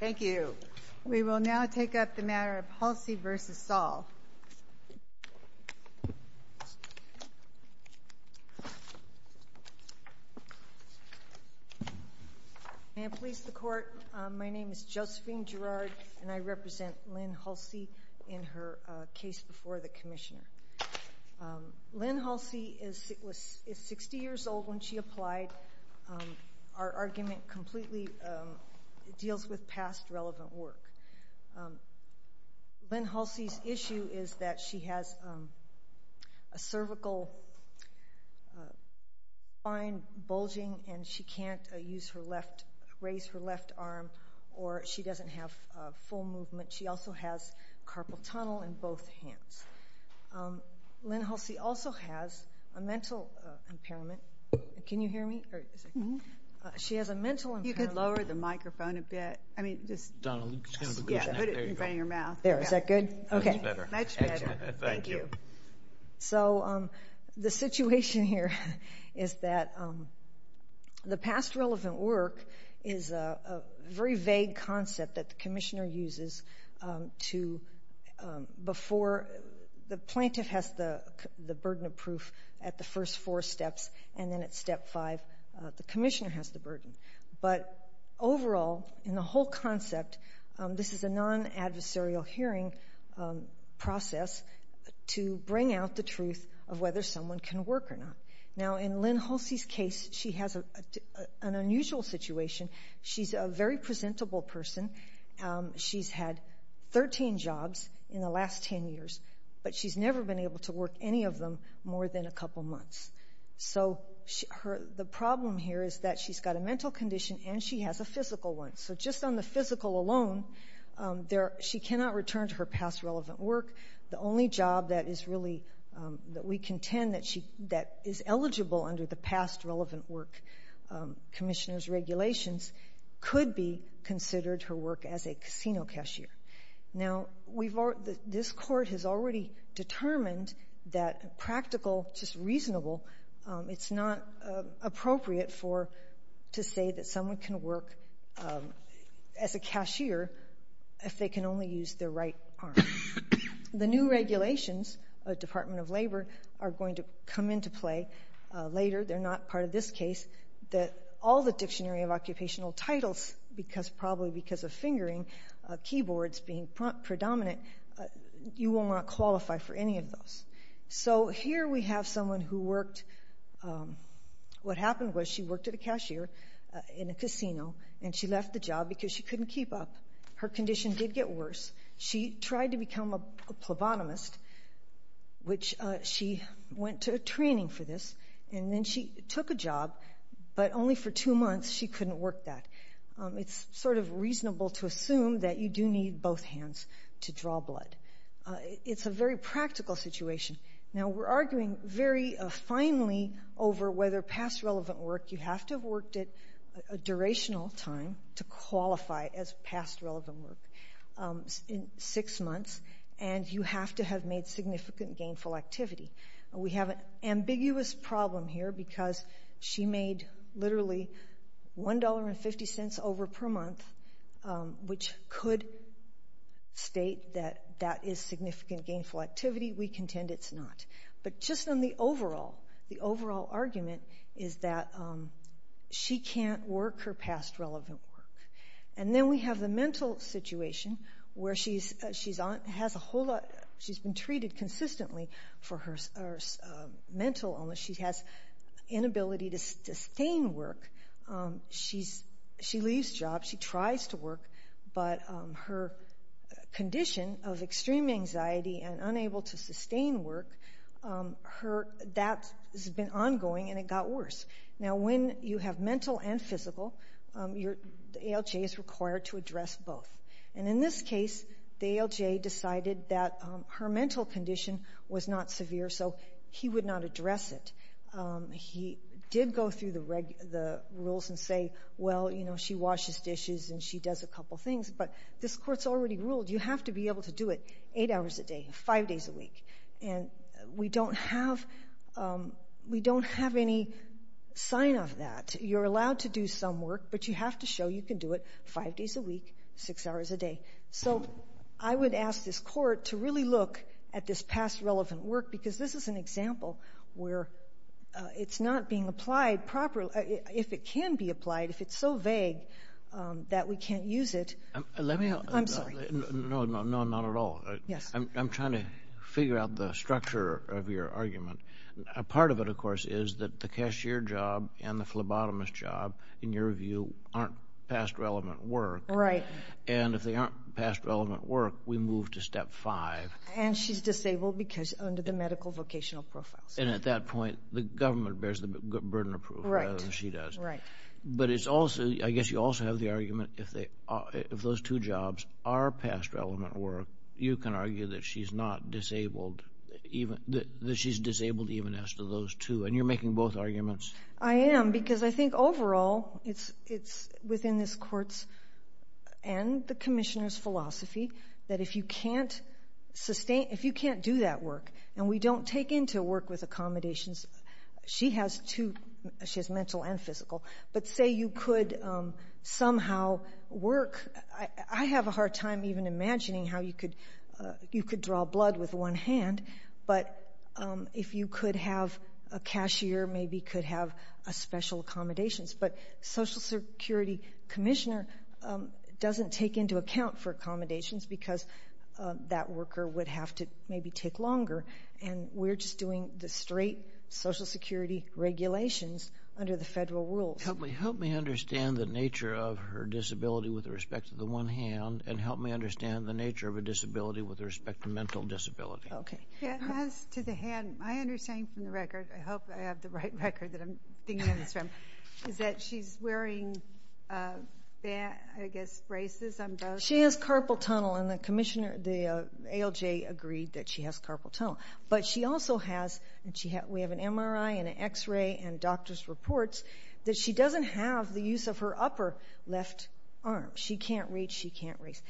Thank you. We will now take up the matter of Hulsey v. Saul. May it please the Court, my name is Josephine Girard and I represent Lynn Hulsey in her case before the Commissioner. Lynn Hulsey is 60 years old when she applied. Our argument completely deals with past relevant work. Lynn Hulsey's issue is that she has a cervical spine bulging and she can't raise her left arm or she doesn't have full movement. She also has carpal tunnel in both hands. Lynn Hulsey also has a mental impairment. Can you hear me? She has a mental impairment. You could lower the microphone a bit. There, is that good? Okay. Much better. Thank you. So, the situation here is that the past relevant work is a very vague concept that the Commissioner uses. The plaintiff has the burden of proof at the first four steps and then at step five the Commissioner has the burden. But overall, in the whole concept, this is a non-adversarial hearing process to bring out the truth of whether someone can work or not. Now in Lynn Hulsey's case, she has an unusual situation. She's a very presentable person. She's had 13 jobs in the last 10 years, but she's never been able to work any of them more than a couple months. So, the problem here is that she's got a mental condition and she has a physical one. So just on the physical alone, she cannot return to her past relevant work. The only job that we contend that is eligible under the past relevant work Commissioner's regulations could be considered her work as a casino cashier. Now, this Court has already determined that practical, just reasonable, it's not appropriate to say that someone can work as a cashier if they can only use their right arm. The new regulations of the Department of Labor are going to come into play later. They're not part of this case. All the Dictionary of Occupational Titles, probably because of fingering, keyboards being predominant, you will not qualify for any of those. So here we have someone who worked. What happened was she worked at a cashier in a casino and she left the job because she couldn't keep up. Her condition did get worse. She tried to become a plebonomist, which she went to training for this, and then she took a job, but only for two months she couldn't work that. It's sort of reasonable to assume that you do need both hands to draw blood. It's a very practical situation. Now, we're arguing very finely over whether past relevant work, you have to have worked it a durational time to qualify as past relevant work. Six months, and you have to have made significant gainful activity. We have an ambiguous problem here because she made literally $1.50 over per month, which could state that that is significant gainful activity. We contend it's not. But just on the overall, the overall argument is that she can't work her past relevant work. And then we have the mental situation where she's been treated consistently for her mental illness. She has inability to sustain work. She leaves jobs. She tries to work, but her condition of extreme anxiety and unable to sustain work, that has been ongoing and it got worse. Now, when you have mental and physical, the ALJ is required to address both. And in this case, the ALJ decided that her mental condition was not severe, so he would not address it. He did go through the rules and say, well, you know, she washes dishes and she does a couple things. But this court's already ruled you have to be able to do it eight hours a day, five days a week. And we don't have, we don't have any sign of that. You're allowed to do some work, but you have to show you can do it five days a week, six hours a day. So I would ask this court to really look at this past relevant work because this is an example where it's not being applied properly. If it can be applied, if it's so vague that we can't use it. Let me help. I'm sorry. No, no, not at all. Yes. I'm trying to figure out the structure of your argument. Part of it, of course, is that the cashier job and the phlebotomist job, in your view, aren't past relevant work. Right. And if they aren't past relevant work, we move to step five. And she's disabled because under the medical vocational profiles. And at that point, the government bears the burden of proof. Right. She does. Right. But it's also, I guess you also have the argument if those two jobs are past relevant work, you can argue that she's not disabled, that she's disabled even as to those two. And you're making both arguments. I am because I think overall it's within this court's and the commissioner's philosophy that if you can't sustain, if you can't do that work and we don't take into work with accommodations, she has two, she has mental and physical. But say you could somehow work. I have a hard time even imagining how you could draw blood with one hand. But if you could have a cashier maybe could have special accommodations. But social security commissioner doesn't take into account for accommodations because that worker would have to maybe take longer. And we're just doing the straight social security regulations under the federal rules. Help me understand the nature of her disability with respect to the one hand and help me understand the nature of a disability with respect to mental disability. Okay. As to the hand, my understanding from the record, I hope I have the right record that I'm thinking of this from, is that she's wearing, I guess, braces on both. She has carpal tunnel and the ALJ agreed that she has carpal tunnel. But she also has, we have an MRI and an X-ray and doctor's reports, that she doesn't have the use of her upper left arm. She can't reach, she can't raise.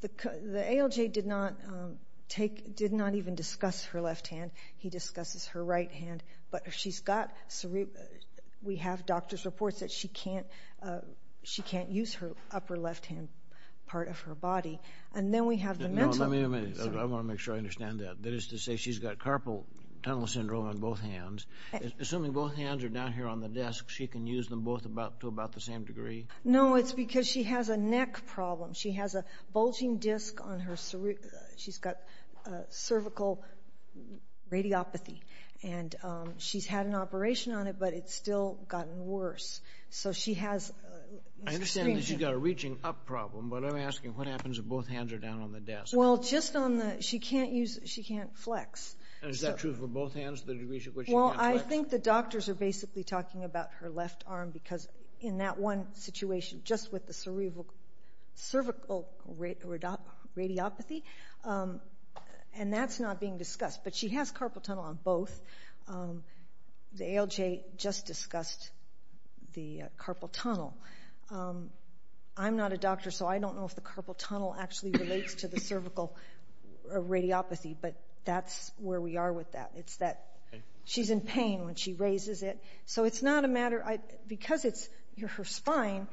The ALJ did not even discuss her left hand. He discusses her right hand. But she's got, we have doctor's reports that she can't use her upper left hand part of her body. And then we have the mental. Let me make sure I understand that. That is to say she's got carpal tunnel syndrome on both hands. Assuming both hands are down here on the desk, she can use them both to about the same degree? No, it's because she has a neck problem. She has a bulging disc on her, she's got cervical radiopathy. And she's had an operation on it, but it's still gotten worse. So she has extreme. I understand that she's got a reaching up problem, but I'm asking what happens if both hands are down on the desk? Well, just on the, she can't use, she can't flex. And is that true for both hands, the degree to which she can't flex? Well, I think the doctors are basically talking about her left arm because in that one situation, just with the cervical radiopathy, and that's not being discussed. But she has carpal tunnel on both. The ALJ just discussed the carpal tunnel. I'm not a doctor, so I don't know if the carpal tunnel actually relates to the cervical radiopathy, but that's where we are with that. It's that she's in pain when she raises it. So it's not a matter, because it's her spine,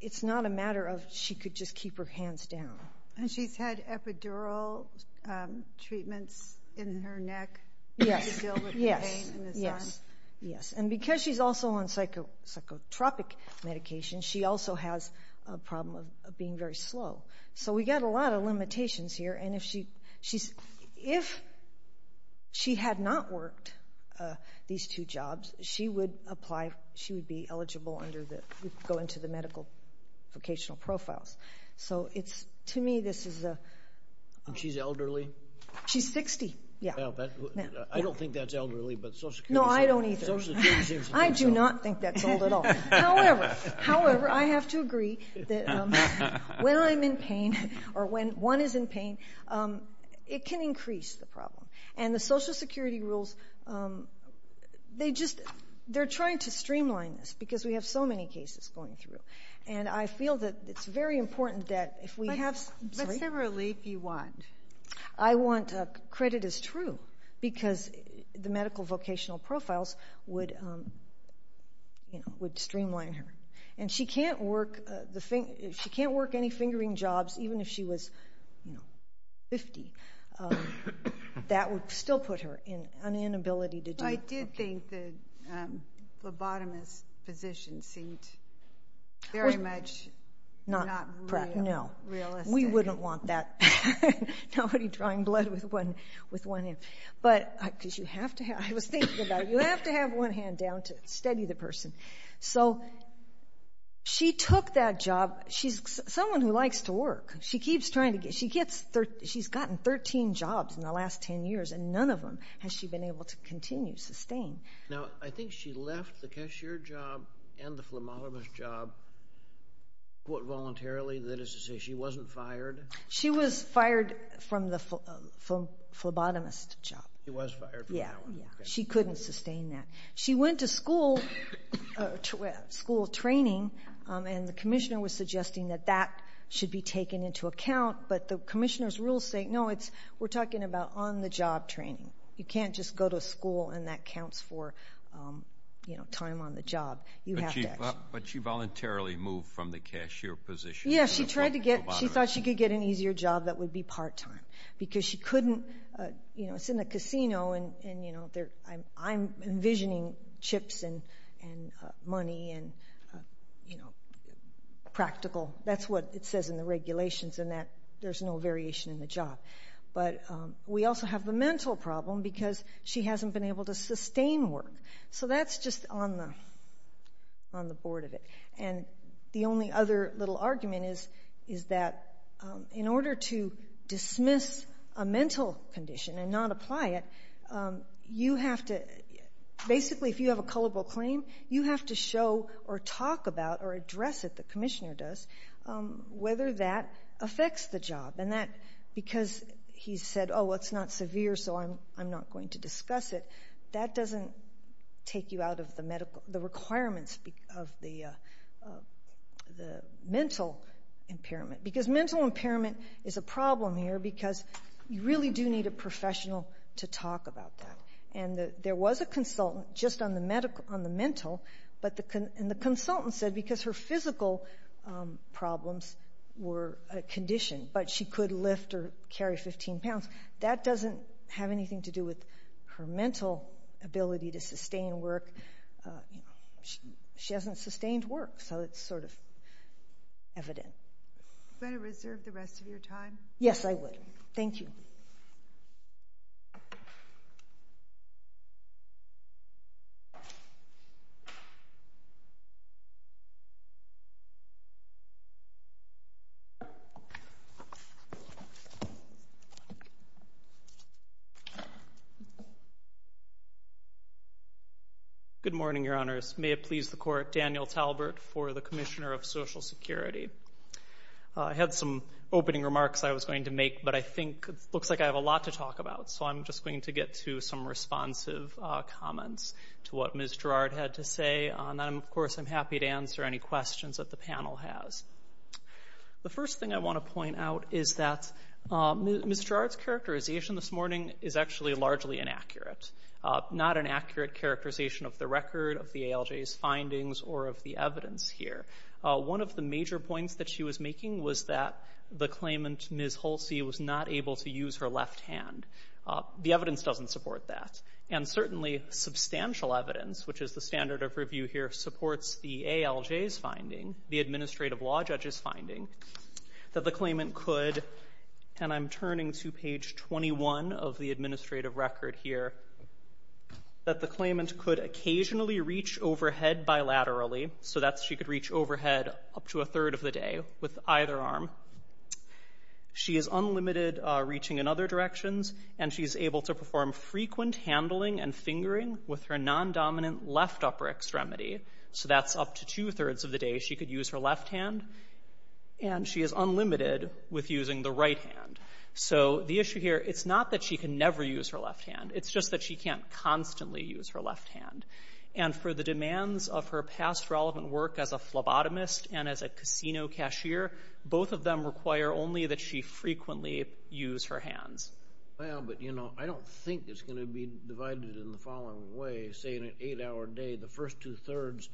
it's not a matter of she could just keep her hands down. And she's had epidural treatments in her neck to deal with the pain in this arm? Yes, and because she's also on psychotropic medication, she also has a problem of being very slow. So we've got a lot of limitations here, and if she had not worked these two jobs, she would apply, she would be eligible under the, go into the medical vocational profiles. So it's, to me, this is a... She's elderly? She's 60, yeah. I don't think that's elderly, but Social Security... No, I don't either. Social Security seems to think so. I do not think that's old at all. However, I have to agree that when I'm in pain, or when one is in pain, it can increase the problem. And the Social Security rules, they're trying to streamline this, because we have so many cases going through. And I feel that it's very important that if we have... What sort of relief do you want? I want credit as true, because the medical vocational profiles would streamline her. And she can't work any fingering jobs, even if she was 50. I did think the lobotomist physician seemed very much not realistic. No, we wouldn't want that. Nobody drawing blood with one hand. But, because you have to have, I was thinking about it, you have to have one hand down to steady the person. So she took that job. She's someone who likes to work. She keeps trying to get... She's gotten 13 jobs in the last 10 years, and none of them has she been able to continue, sustain. Now, I think she left the cashier job and the phlebotomist job voluntarily. That is to say, she wasn't fired. She was fired from the phlebotomist job. She was fired from that one. She couldn't sustain that. She went to school training, and the commissioner was suggesting that that should be taken into account. But the commissioner's rules say, no, we're talking about on-the-job training. You can't just go to school, and that counts for time on the job. But she voluntarily moved from the cashier position to the phlebotomist. Yeah, she thought she could get an easier job that would be part-time, because she couldn't. It's in a casino, and I'm envisioning chips and money and practical. That's what it says in the regulations, and there's no variation in the job. But we also have the mental problem, because she hasn't been able to sustain work. So that's just on the board of it. And the only other little argument is that in order to dismiss a mental condition and not apply it, you have to basically, if you have a culpable claim, you have to show or talk about or address it, the commissioner does, whether that affects the job. And because he said, oh, it's not severe, so I'm not going to discuss it, that doesn't take you out of the requirements of the mental impairment. Because mental impairment is a problem here, because you really do need a professional to talk about that. And there was a consultant just on the mental, and the consultant said because her physical problems were a condition, but she could lift or carry 15 pounds, that doesn't have anything to do with her mental ability to sustain work. She hasn't sustained work, so it's sort of evident. You better reserve the rest of your time. Yes, I will. Thank you. May it please the Court, Daniel Talbert for the Commissioner of Social Security. I had some opening remarks I was going to make, but I think it looks like I have a lot to talk about, so I'm just going to get to some responsive comments to what Ms. Gerard had to say. And, of course, I'm happy to answer any questions that the panel has. The first thing I want to point out is that Ms. Gerard's characterization this morning is actually largely inaccurate, not an accurate characterization of the record of the ALJ's findings or of the evidence here. One of the major points that she was making was that the claimant, Ms. Holsey, was not able to use her left hand. The evidence doesn't support that. And certainly substantial evidence, which is the standard of review here, supports the ALJ's finding, the administrative law judge's finding, that the claimant could, and I'm turning to page 21 of the administrative record here, that the claimant could occasionally reach overhead bilaterally, so that she could reach overhead up to a third of the day with either arm. She is unlimited reaching in other directions, and she is able to perform frequent handling and fingering with her non-dominant left upper extremity. So that's up to two-thirds of the day she could use her left hand, and she is unlimited with using the right hand. So the issue here, it's not that she can never use her left hand. It's just that she can't constantly use her left hand. And for the demands of her past relevant work as a phlebotomist and as a casino cashier, both of them require only that she frequently use her hands. Well, but, you know, I don't think it's going to be divided in the following way. Say in an eight-hour day, the first two-thirds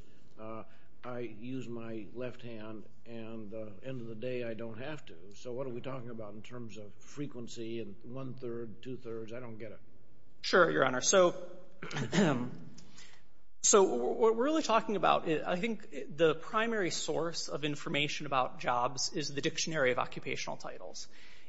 I use my left hand, and at the end of the day I don't have to. So what are we talking about in terms of frequency and one-third, two-thirds? I don't get it. Sure, Your Honor. So what we're really talking about, I think the primary source of information about jobs is the Dictionary of Occupational Titles.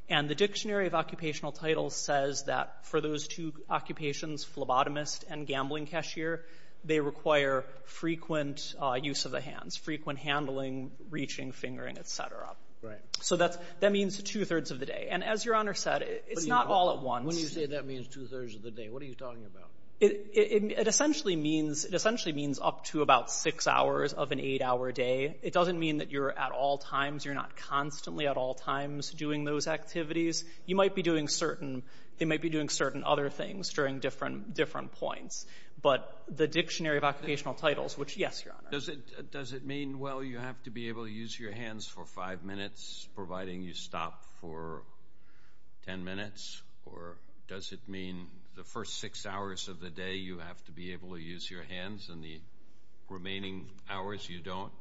And the Dictionary of Occupational Titles says that for those two occupations, phlebotomist and gambling cashier, they require frequent use of the hands, frequent handling, reaching, fingering, et cetera. Right. So that means two-thirds of the day. And as Your Honor said, it's not all at once. When you say that means two-thirds of the day, what are you talking about? It essentially means up to about six hours of an eight-hour day. It doesn't mean that you're at all times. You're not constantly at all times doing those activities. You might be doing certain other things during different points. But the Dictionary of Occupational Titles, which, yes, Your Honor. Does it mean, well, you have to be able to use your hands for five minutes providing you stop for ten minutes? Or does it mean the first six hours of the day you have to be able to use your hands and the remaining hours you don't?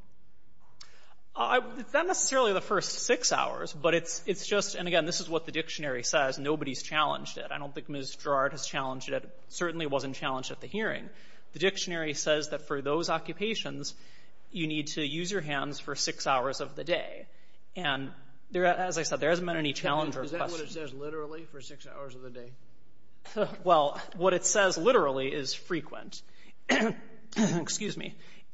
Not necessarily the first six hours, but it's just, and again, this is what the Dictionary says, nobody's challenged it. I don't think Ms. Gerard has challenged it. It certainly wasn't challenged at the hearing. The Dictionary says that for those occupations, you need to use your hands for six hours of the day. And as I said, there hasn't been any challenge or question. Is that what it says literally for six hours of the day? Well, what it says literally is frequent.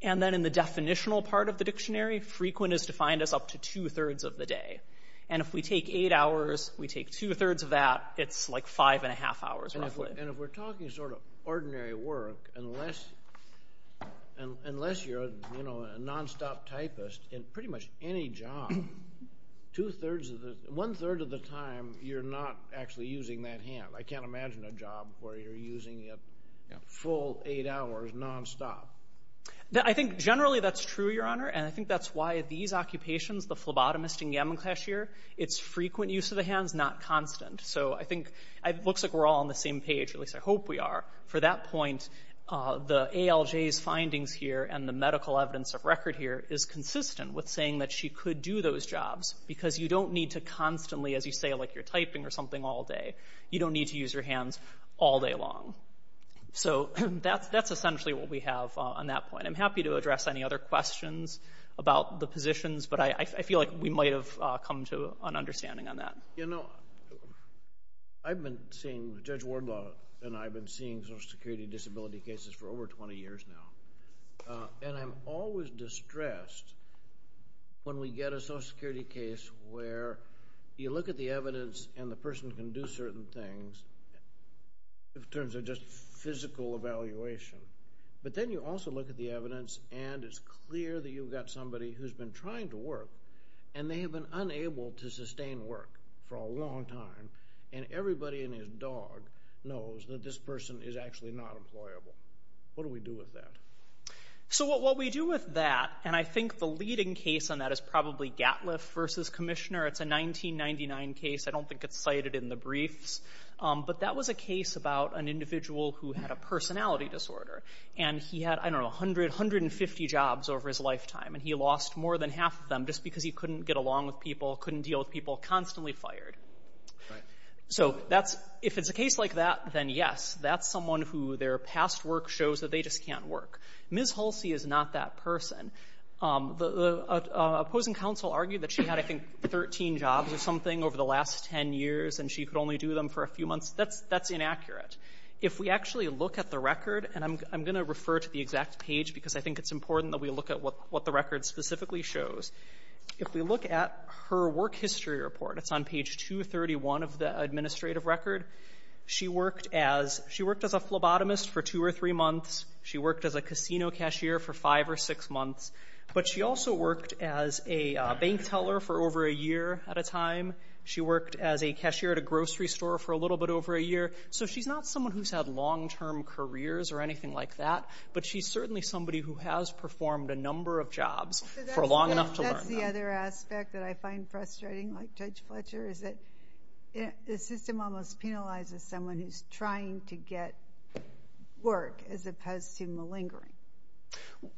And then in the definitional part of the Dictionary, frequent is defined as up to two-thirds of the day. And if we take eight hours, we take two-thirds of that, it's like five and a half hours roughly. And if we're talking sort of ordinary work, unless you're a nonstop typist in pretty much any job, one-third of the time you're not actually using that hand. I can't imagine a job where you're using a full eight hours nonstop. I think generally that's true, Your Honor, and I think that's why these occupations, the phlebotomist and yamakashier, it's frequent use of the hands, not constant. So I think it looks like we're all on the same page, at least I hope we are. For that point, the ALJ's findings here and the medical evidence of record here is consistent with saying that she could do those jobs because you don't need to constantly, as you say, like you're typing or something all day, you don't need to use your hands all day long. So that's essentially what we have on that point. I'm happy to address any other questions about the positions, but I feel like we might have come to an understanding on that. You know, I've been seeing, Judge Wardlaw and I have been seeing Social Security disability cases for over 20 years now, and I'm always distressed when we get a Social Security case where you look at the evidence and the person can do certain things in terms of just physical evaluation, but then you also look at the evidence and it's clear that you've got somebody who's been trying to work and they have been unable to sustain work for a long time and everybody in his dog knows that this person is actually not employable. What do we do with that? So what we do with that, and I think the leading case on that is probably Gatliff v. Commissioner. It's a 1999 case. I don't think it's cited in the briefs, but that was a case about an individual who had a personality disorder, and he had, I don't know, 100, 150 jobs over his lifetime, and he lost more than half of them just because he couldn't get along with people, couldn't deal with people, constantly fired. So if it's a case like that, then yes, that's someone who their past work shows that they just can't work. Ms. Hulsey is not that person. The opposing counsel argued that she had, I think, 13 jobs or something over the last 10 years and she could only do them for a few months. That's inaccurate. If we actually look at the record, and I'm going to refer to the exact page because I think it's important that we look at what the record specifically shows. If we look at her work history report, it's on page 231 of the administrative record. She worked as a phlebotomist for 2 or 3 months. She worked as a casino cashier for 5 or 6 months. But she also worked as a bank teller for over a year at a time. She worked as a cashier at a grocery store for a little bit over a year. So she's not someone who's had long-term careers or anything like that, but she's certainly somebody who has performed a number of jobs for long enough to learn them. So that's the other aspect that I find frustrating, like Judge Fletcher, is that the system almost penalizes someone who's trying to get work as opposed to malingering.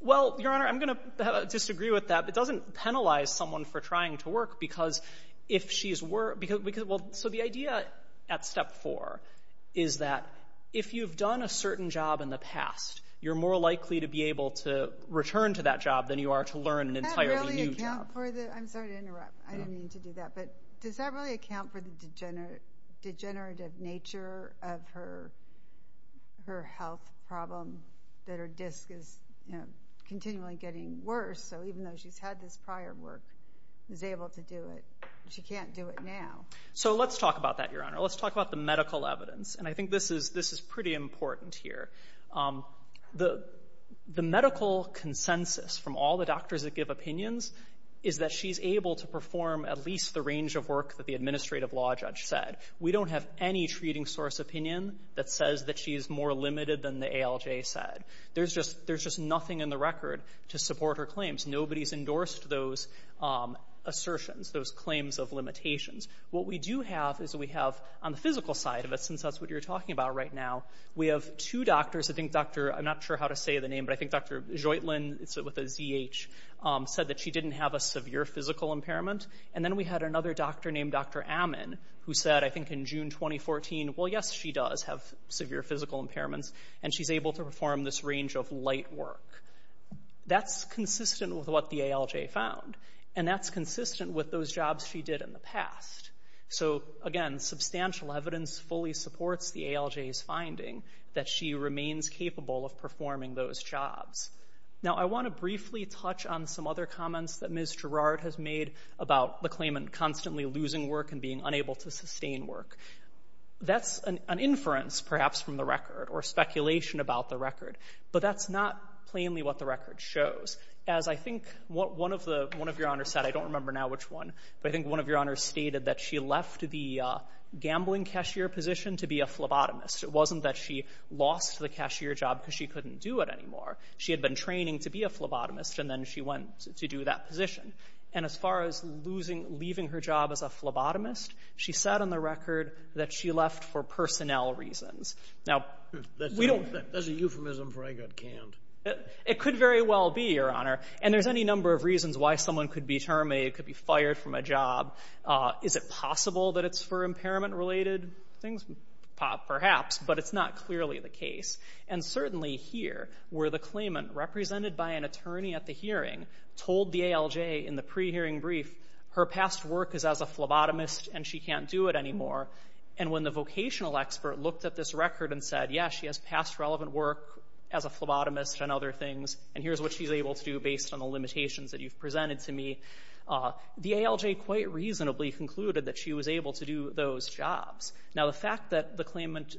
Well, Your Honor, I'm going to disagree with that. It doesn't penalize someone for trying to work because if she's worked... So the idea at step 4 is that if you've done a certain job in the past, you're more likely to be able to return to that job than you are to learn an entirely new job. Does that really account for the... I'm sorry to interrupt. I didn't mean to do that. But does that really account for the degenerative nature of her health problem that her disc is continually getting worse? So even though she's had this prior work, she's able to do it, but she can't do it now. So let's talk about that, Your Honor. Let's talk about the medical evidence. And I think this is pretty important here. The medical consensus from all the doctors that give opinions is that she's able to perform at least the range of work that the administrative law judge said. We don't have any treating source opinion that says that she's more limited than the ALJ said. There's just nothing in the record to support her claims. Nobody's endorsed those assertions, those claims of limitations. What we do have is we have, on the physical side of it, since that's what you're talking about right now, we have two doctors. I'm not sure how to say the name, but I think Dr. Joytlin, with a Z-H, said that she didn't have a severe physical impairment. And then we had another doctor named Dr. Ammon, who said, I think in June 2014, well, yes, she does have severe physical impairments, and she's able to perform this range of light work. That's consistent with what the ALJ found, and that's consistent with those jobs she did in the past. So, again, substantial evidence fully supports the ALJ's finding that she remains capable of performing those jobs. Now, I want to briefly touch on some other comments that Ms. Girard has made about the claimant constantly losing work and being unable to sustain work. That's an inference, perhaps, from the record or speculation about the record, but that's not plainly what the record shows. As I think one of your honors said, I don't remember now which one, but I think one of your honors stated that she left the gambling cashier position to be a phlebotomist. It wasn't that she lost the cashier job because she couldn't do it anymore. She had been training to be a phlebotomist, and then she went to do that position. And as far as losing, leaving her job as a phlebotomist, she said on the record that she left for personnel reasons. Now, we don't... That's a euphemism for, I got canned. It could very well be, your honor. And there's any number of reasons why someone could be terminated, could be fired from a job. Is it possible that it's for impairment-related things? Perhaps, but it's not clearly the case. And certainly here, where the claimant, represented by an attorney at the hearing, told the ALJ in the pre-hearing brief, her past work is as a phlebotomist and she can't do it anymore. And when the vocational expert looked at this record and said, yeah, she has past relevant work as a phlebotomist and other things, and here's what she's able to do based on the limitations that you've presented to me, the ALJ quite reasonably concluded that she was able to do those jobs. Now, the fact that the claimant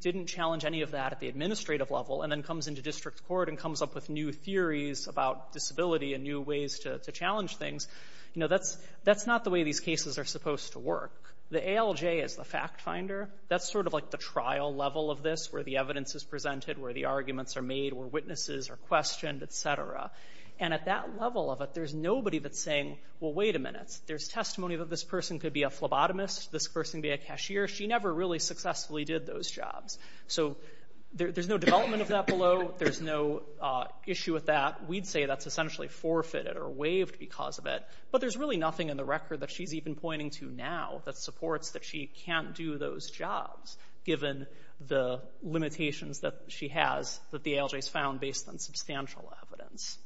didn't challenge any of that at the administrative level and then comes into district court and comes up with new theories about disability and new ways to challenge things, that's not the way these cases are supposed to work. The ALJ is the fact-finder. That's sort of like the trial level of this, where the evidence is presented, where the arguments are made, where witnesses are questioned, et cetera. And at that level of it, there's nobody that's saying, well, wait a minute, there's testimony that this person could be a phlebotomist, this person could be a cashier. She never really successfully did those jobs. So there's no development of that below. There's no issue with that. We'd say that's essentially forfeited or waived because of it. But there's really nothing in the record that she's even pointing to now that supports that she can't do those jobs, given the limitations that she has that the ALJ has found based on substantial evidence.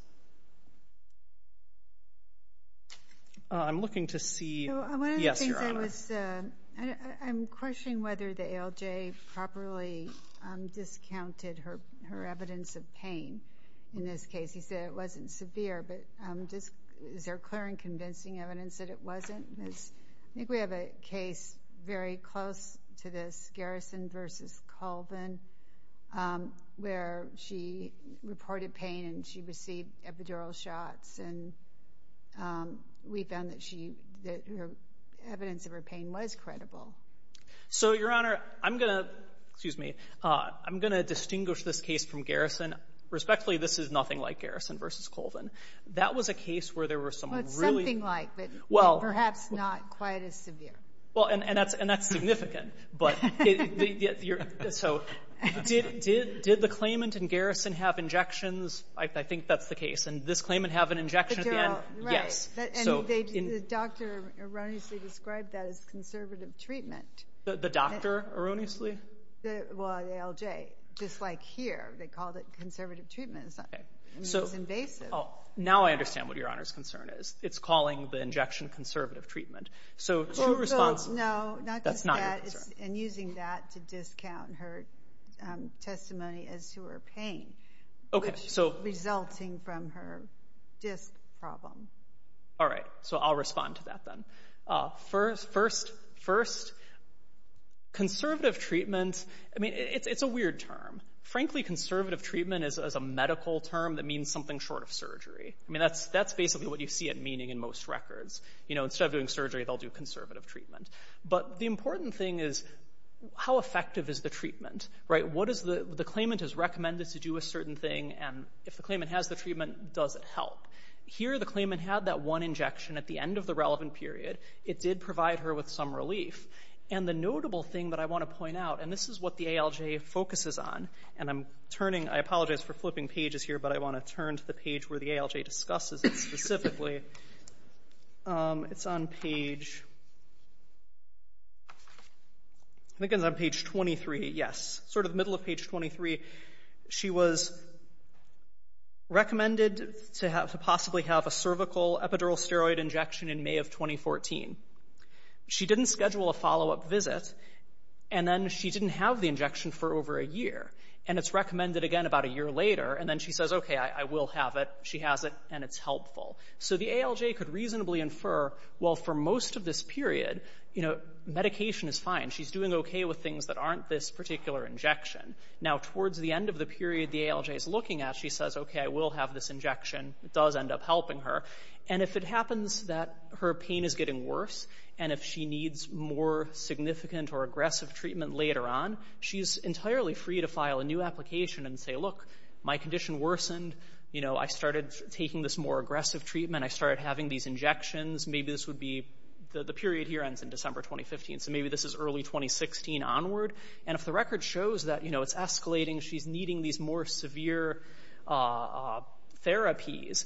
I'm looking to see... Yes, Your Honor. I'm questioning whether the ALJ properly discounted her evidence of pain in this case. You said it wasn't severe, but is there clear and convincing evidence that it wasn't? I think we have a case very close to this, Garrison v. Colvin, where she reported pain and she received epidural shots, and we found that evidence of her pain was credible. So, Your Honor, I'm going to distinguish this case from Garrison. Respectfully, this is nothing like Garrison v. Colvin. That was a case where there were some really... That's not quite as severe. And that's significant. Did the claimant in Garrison have injections? I think that's the case. Did this claimant have an injection at the end? Yes. The doctor erroneously described that as conservative treatment. The doctor erroneously? Well, the ALJ. Just like here, they called it conservative treatment. It's invasive. Now I understand what Your Honor's concern is. It's calling the injection conservative treatment. No, not just that. And using that to discount her testimony as to her pain, resulting from her disc problem. All right. So I'll respond to that then. First, conservative treatment, it's a weird term. Frankly, conservative treatment is a medical term that means something short of surgery. I mean, that's basically what you see it meaning in most records. Instead of doing surgery, they'll do conservative treatment. But the important thing is, how effective is the treatment? The claimant has recommended to do a certain thing, and if the claimant has the treatment, does it help? Here the claimant had that one injection at the end of the relevant period. It did provide her with some relief. And the notable thing that I want to point out, and this is what the ALJ focuses on, and I apologize for flipping pages here, but I want to turn to the page where the ALJ discusses it specifically. It's on page... I think it's on page 23, yes. Sort of the middle of page 23. She was recommended to possibly have a cervical epidural steroid injection in May of 2014. She didn't schedule a follow-up visit, and then she didn't have the injection for over a year. And it's recommended again about a year later, and then she says, okay, I will have it. She has it, and it's helpful. So the ALJ could reasonably infer, well, for most of this period, you know, medication is fine. She's doing okay with things that aren't this particular injection. Now, towards the end of the period the ALJ is looking at, she says, okay, I will have this injection. It does end up helping her. And if it happens that her pain is getting worse, and if she needs more significant or aggressive treatment later on, she's entirely free to file a new application and say, look, my condition worsened. I started taking this more aggressive treatment. I started having these injections. Maybe this would be the period here ends in December 2015, so maybe this is early 2016 onward. And if the record shows that it's escalating, she's needing these more severe therapies,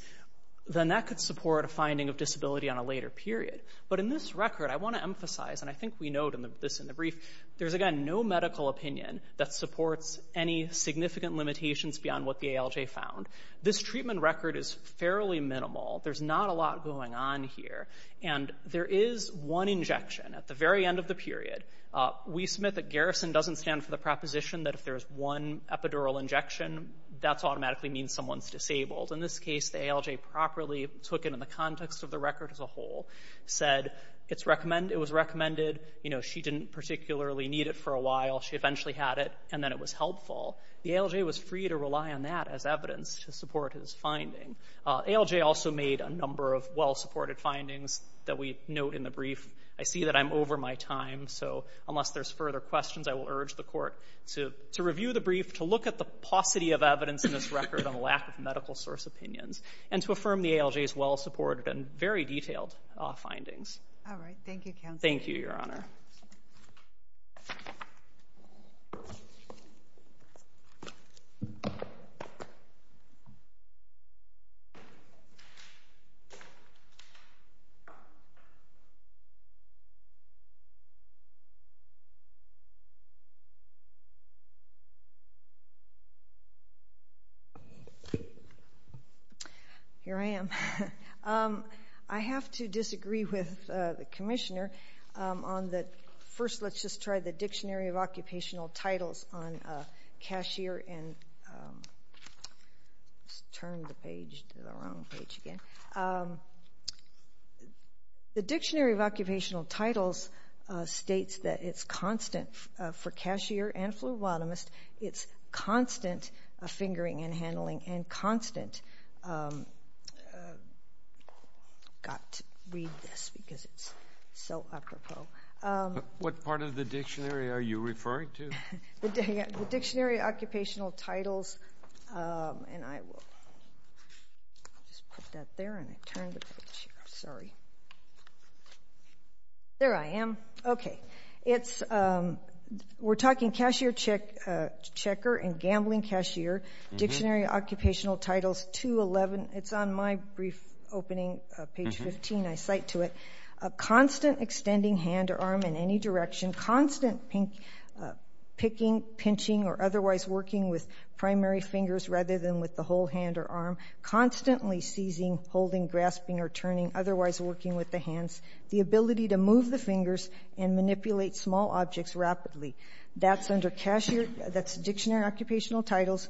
then that could support a finding of disability on a later period. But in this record, I want to emphasize, and I think we note this in the brief, there's, again, no medical opinion that supports any significant limitations beyond what the ALJ found. This treatment record is fairly minimal. There's not a lot going on here. And there is one injection at the very end of the period. We submit that Garrison doesn't stand for the proposition that if there's one epidural injection, that automatically means someone's disabled. In this case, the ALJ properly took it in the context of the record as a whole, said it was recommended. She didn't particularly need it for a while. She eventually had it, and then it was helpful. The ALJ was free to rely on that as evidence to support his finding. ALJ also made a number of well-supported findings that we note in the brief. I see that I'm over my time, so unless there's further questions, I will urge the Court to review the brief, to look at the paucity of evidence in this record on the lack of medical source opinions, and to affirm the ALJ's well-supported and very detailed findings. All right. Thank you, Counsel. Thank you, Your Honor. Here I am. I have to disagree with the Commissioner on the... First, let's just try the Dictionary of Occupational Titles on cashier and... Let's turn the page to the wrong page again. The Dictionary of Occupational Titles states that it's constant for cashier and phlebotomist. It's constant fingering and handling, and constant... I've got to read this because it's so apropos. What part of the dictionary are you referring to? The Dictionary of Occupational Titles, and I will... I'll just put that there, and I'll turn the page here. Sorry. There I am. Okay. We're talking cashier checker and gambling cashier. Dictionary of Occupational Titles, 211. It's on my brief opening, page 15. I cite to it, a constant extending hand or arm in any direction, constant picking, pinching, or otherwise working with primary fingers rather than with the whole hand or arm, constantly seizing, holding, grasping, or turning, otherwise working with the hands, the ability to move the fingers and manipulate small objects rapidly. That's under Dictionary of Occupational Titles,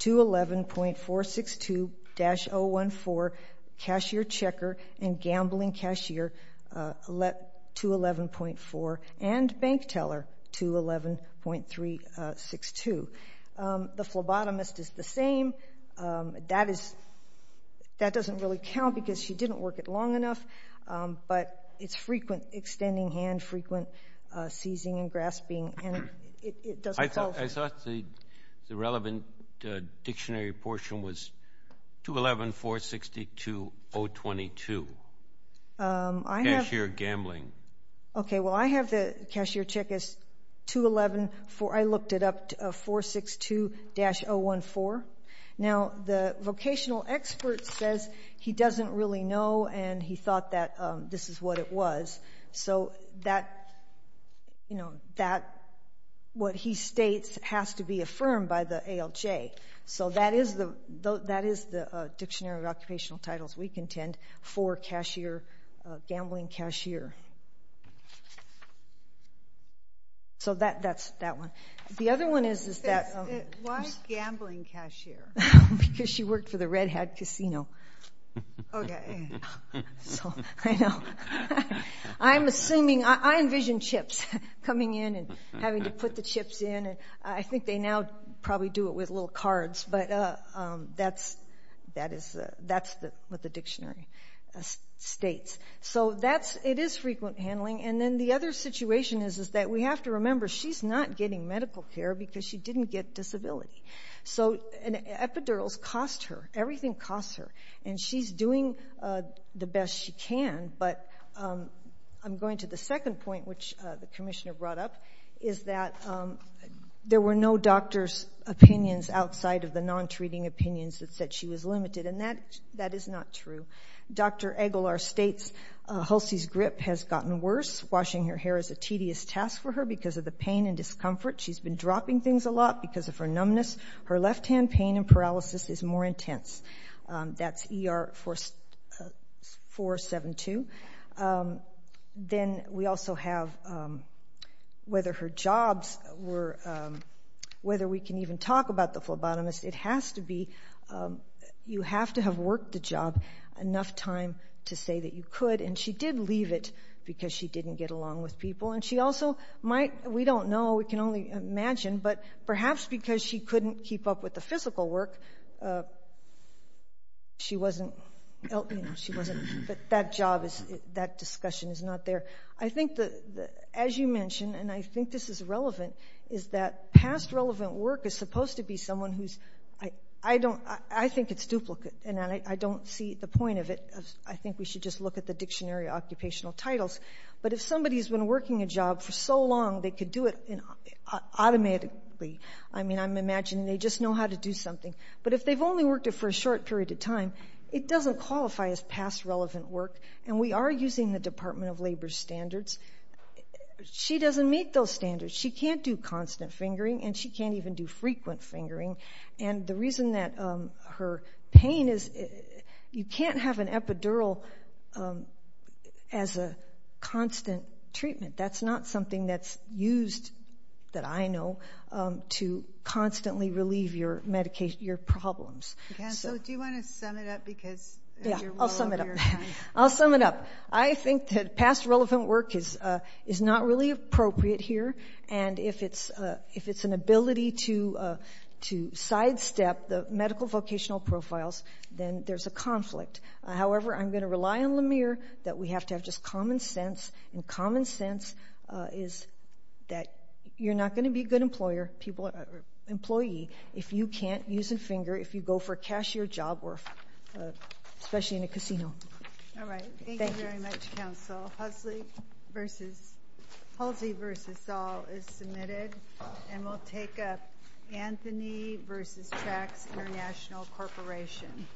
211.462-014, cashier checker and gambling cashier, 211.4, and bank teller, 211.362. The phlebotomist is the same. That doesn't really count because she didn't work it long enough, but it's frequent extending hand, frequent seizing and grasping, and it doesn't fall short. I thought the relevant dictionary portion was 211.462-022, cashier gambling. Okay. Well, I have the cashier check as 211. I looked it up, 462-014. Now, the vocational expert says he doesn't really know and he thought that this is what it was. So what he states has to be affirmed by the ALJ. So that is the Dictionary of Occupational Titles we contend for gambling cashier. So that's that one. The other one is that why gambling cashier? Because she worked for the Red Hat casino. Okay. I know. I'm assuming. I envision chips coming in and having to put the chips in. I think they now probably do it with little cards, but that's what the dictionary states. So it is frequent handling. And then the other situation is that we have to remember, she's not getting medical care because she didn't get disability. So epidurals cost her. Everything costs her. And she's doing the best she can. But I'm going to the second point, which the Commissioner brought up, is that there were no doctors' opinions outside of the non-treating opinions that said she was limited, and that is not true. Dr. Aguilar states Hulsey's grip has gotten worse. Washing her hair is a tedious task for her because of the pain and discomfort. She's been dropping things a lot because of her numbness. Her left-hand pain and paralysis is more intense. That's ER 472. Then we also have whether her jobs were – whether we can even talk about the phlebotomist. It has to be – you have to have worked the job enough time to say that you could. And she did leave it because she didn't get along with people. And she also might – we don't know. We can only imagine. But perhaps because she couldn't keep up with the physical work, she wasn't – that job is – that discussion is not there. I think, as you mentioned, and I think this is relevant, is that past relevant work is supposed to be someone who's – I think it's duplicate, and I don't see the point of it. I think we should just look at the dictionary occupational titles. But if somebody's been working a job for so long, they could do it automatically. I mean, I'm imagining they just know how to do something. But if they've only worked it for a short period of time, it doesn't qualify as past relevant work. And we are using the Department of Labor's standards. She doesn't meet those standards. She can't do constant fingering, and she can't even do frequent fingering. And the reason that her pain is – you can't have an epidural as a constant treatment. That's not something that's used, that I know, to constantly relieve your problems. So do you want to sum it up because you're well over your time? Yeah, I'll sum it up. I'll sum it up. I think that past relevant work is not really appropriate here. And if it's an ability to sidestep the medical vocational profiles, then there's a conflict. However, I'm going to rely on Lamere that we have to have just common sense. And common sense is that you're not going to be a good employer or employee if you can't use a finger, if you go for cashier job work, especially in a casino. All right. Thank you very much, Counsel. Hulsey v. Saul is submitted, and we'll take up Anthony v. Trax International Corporation.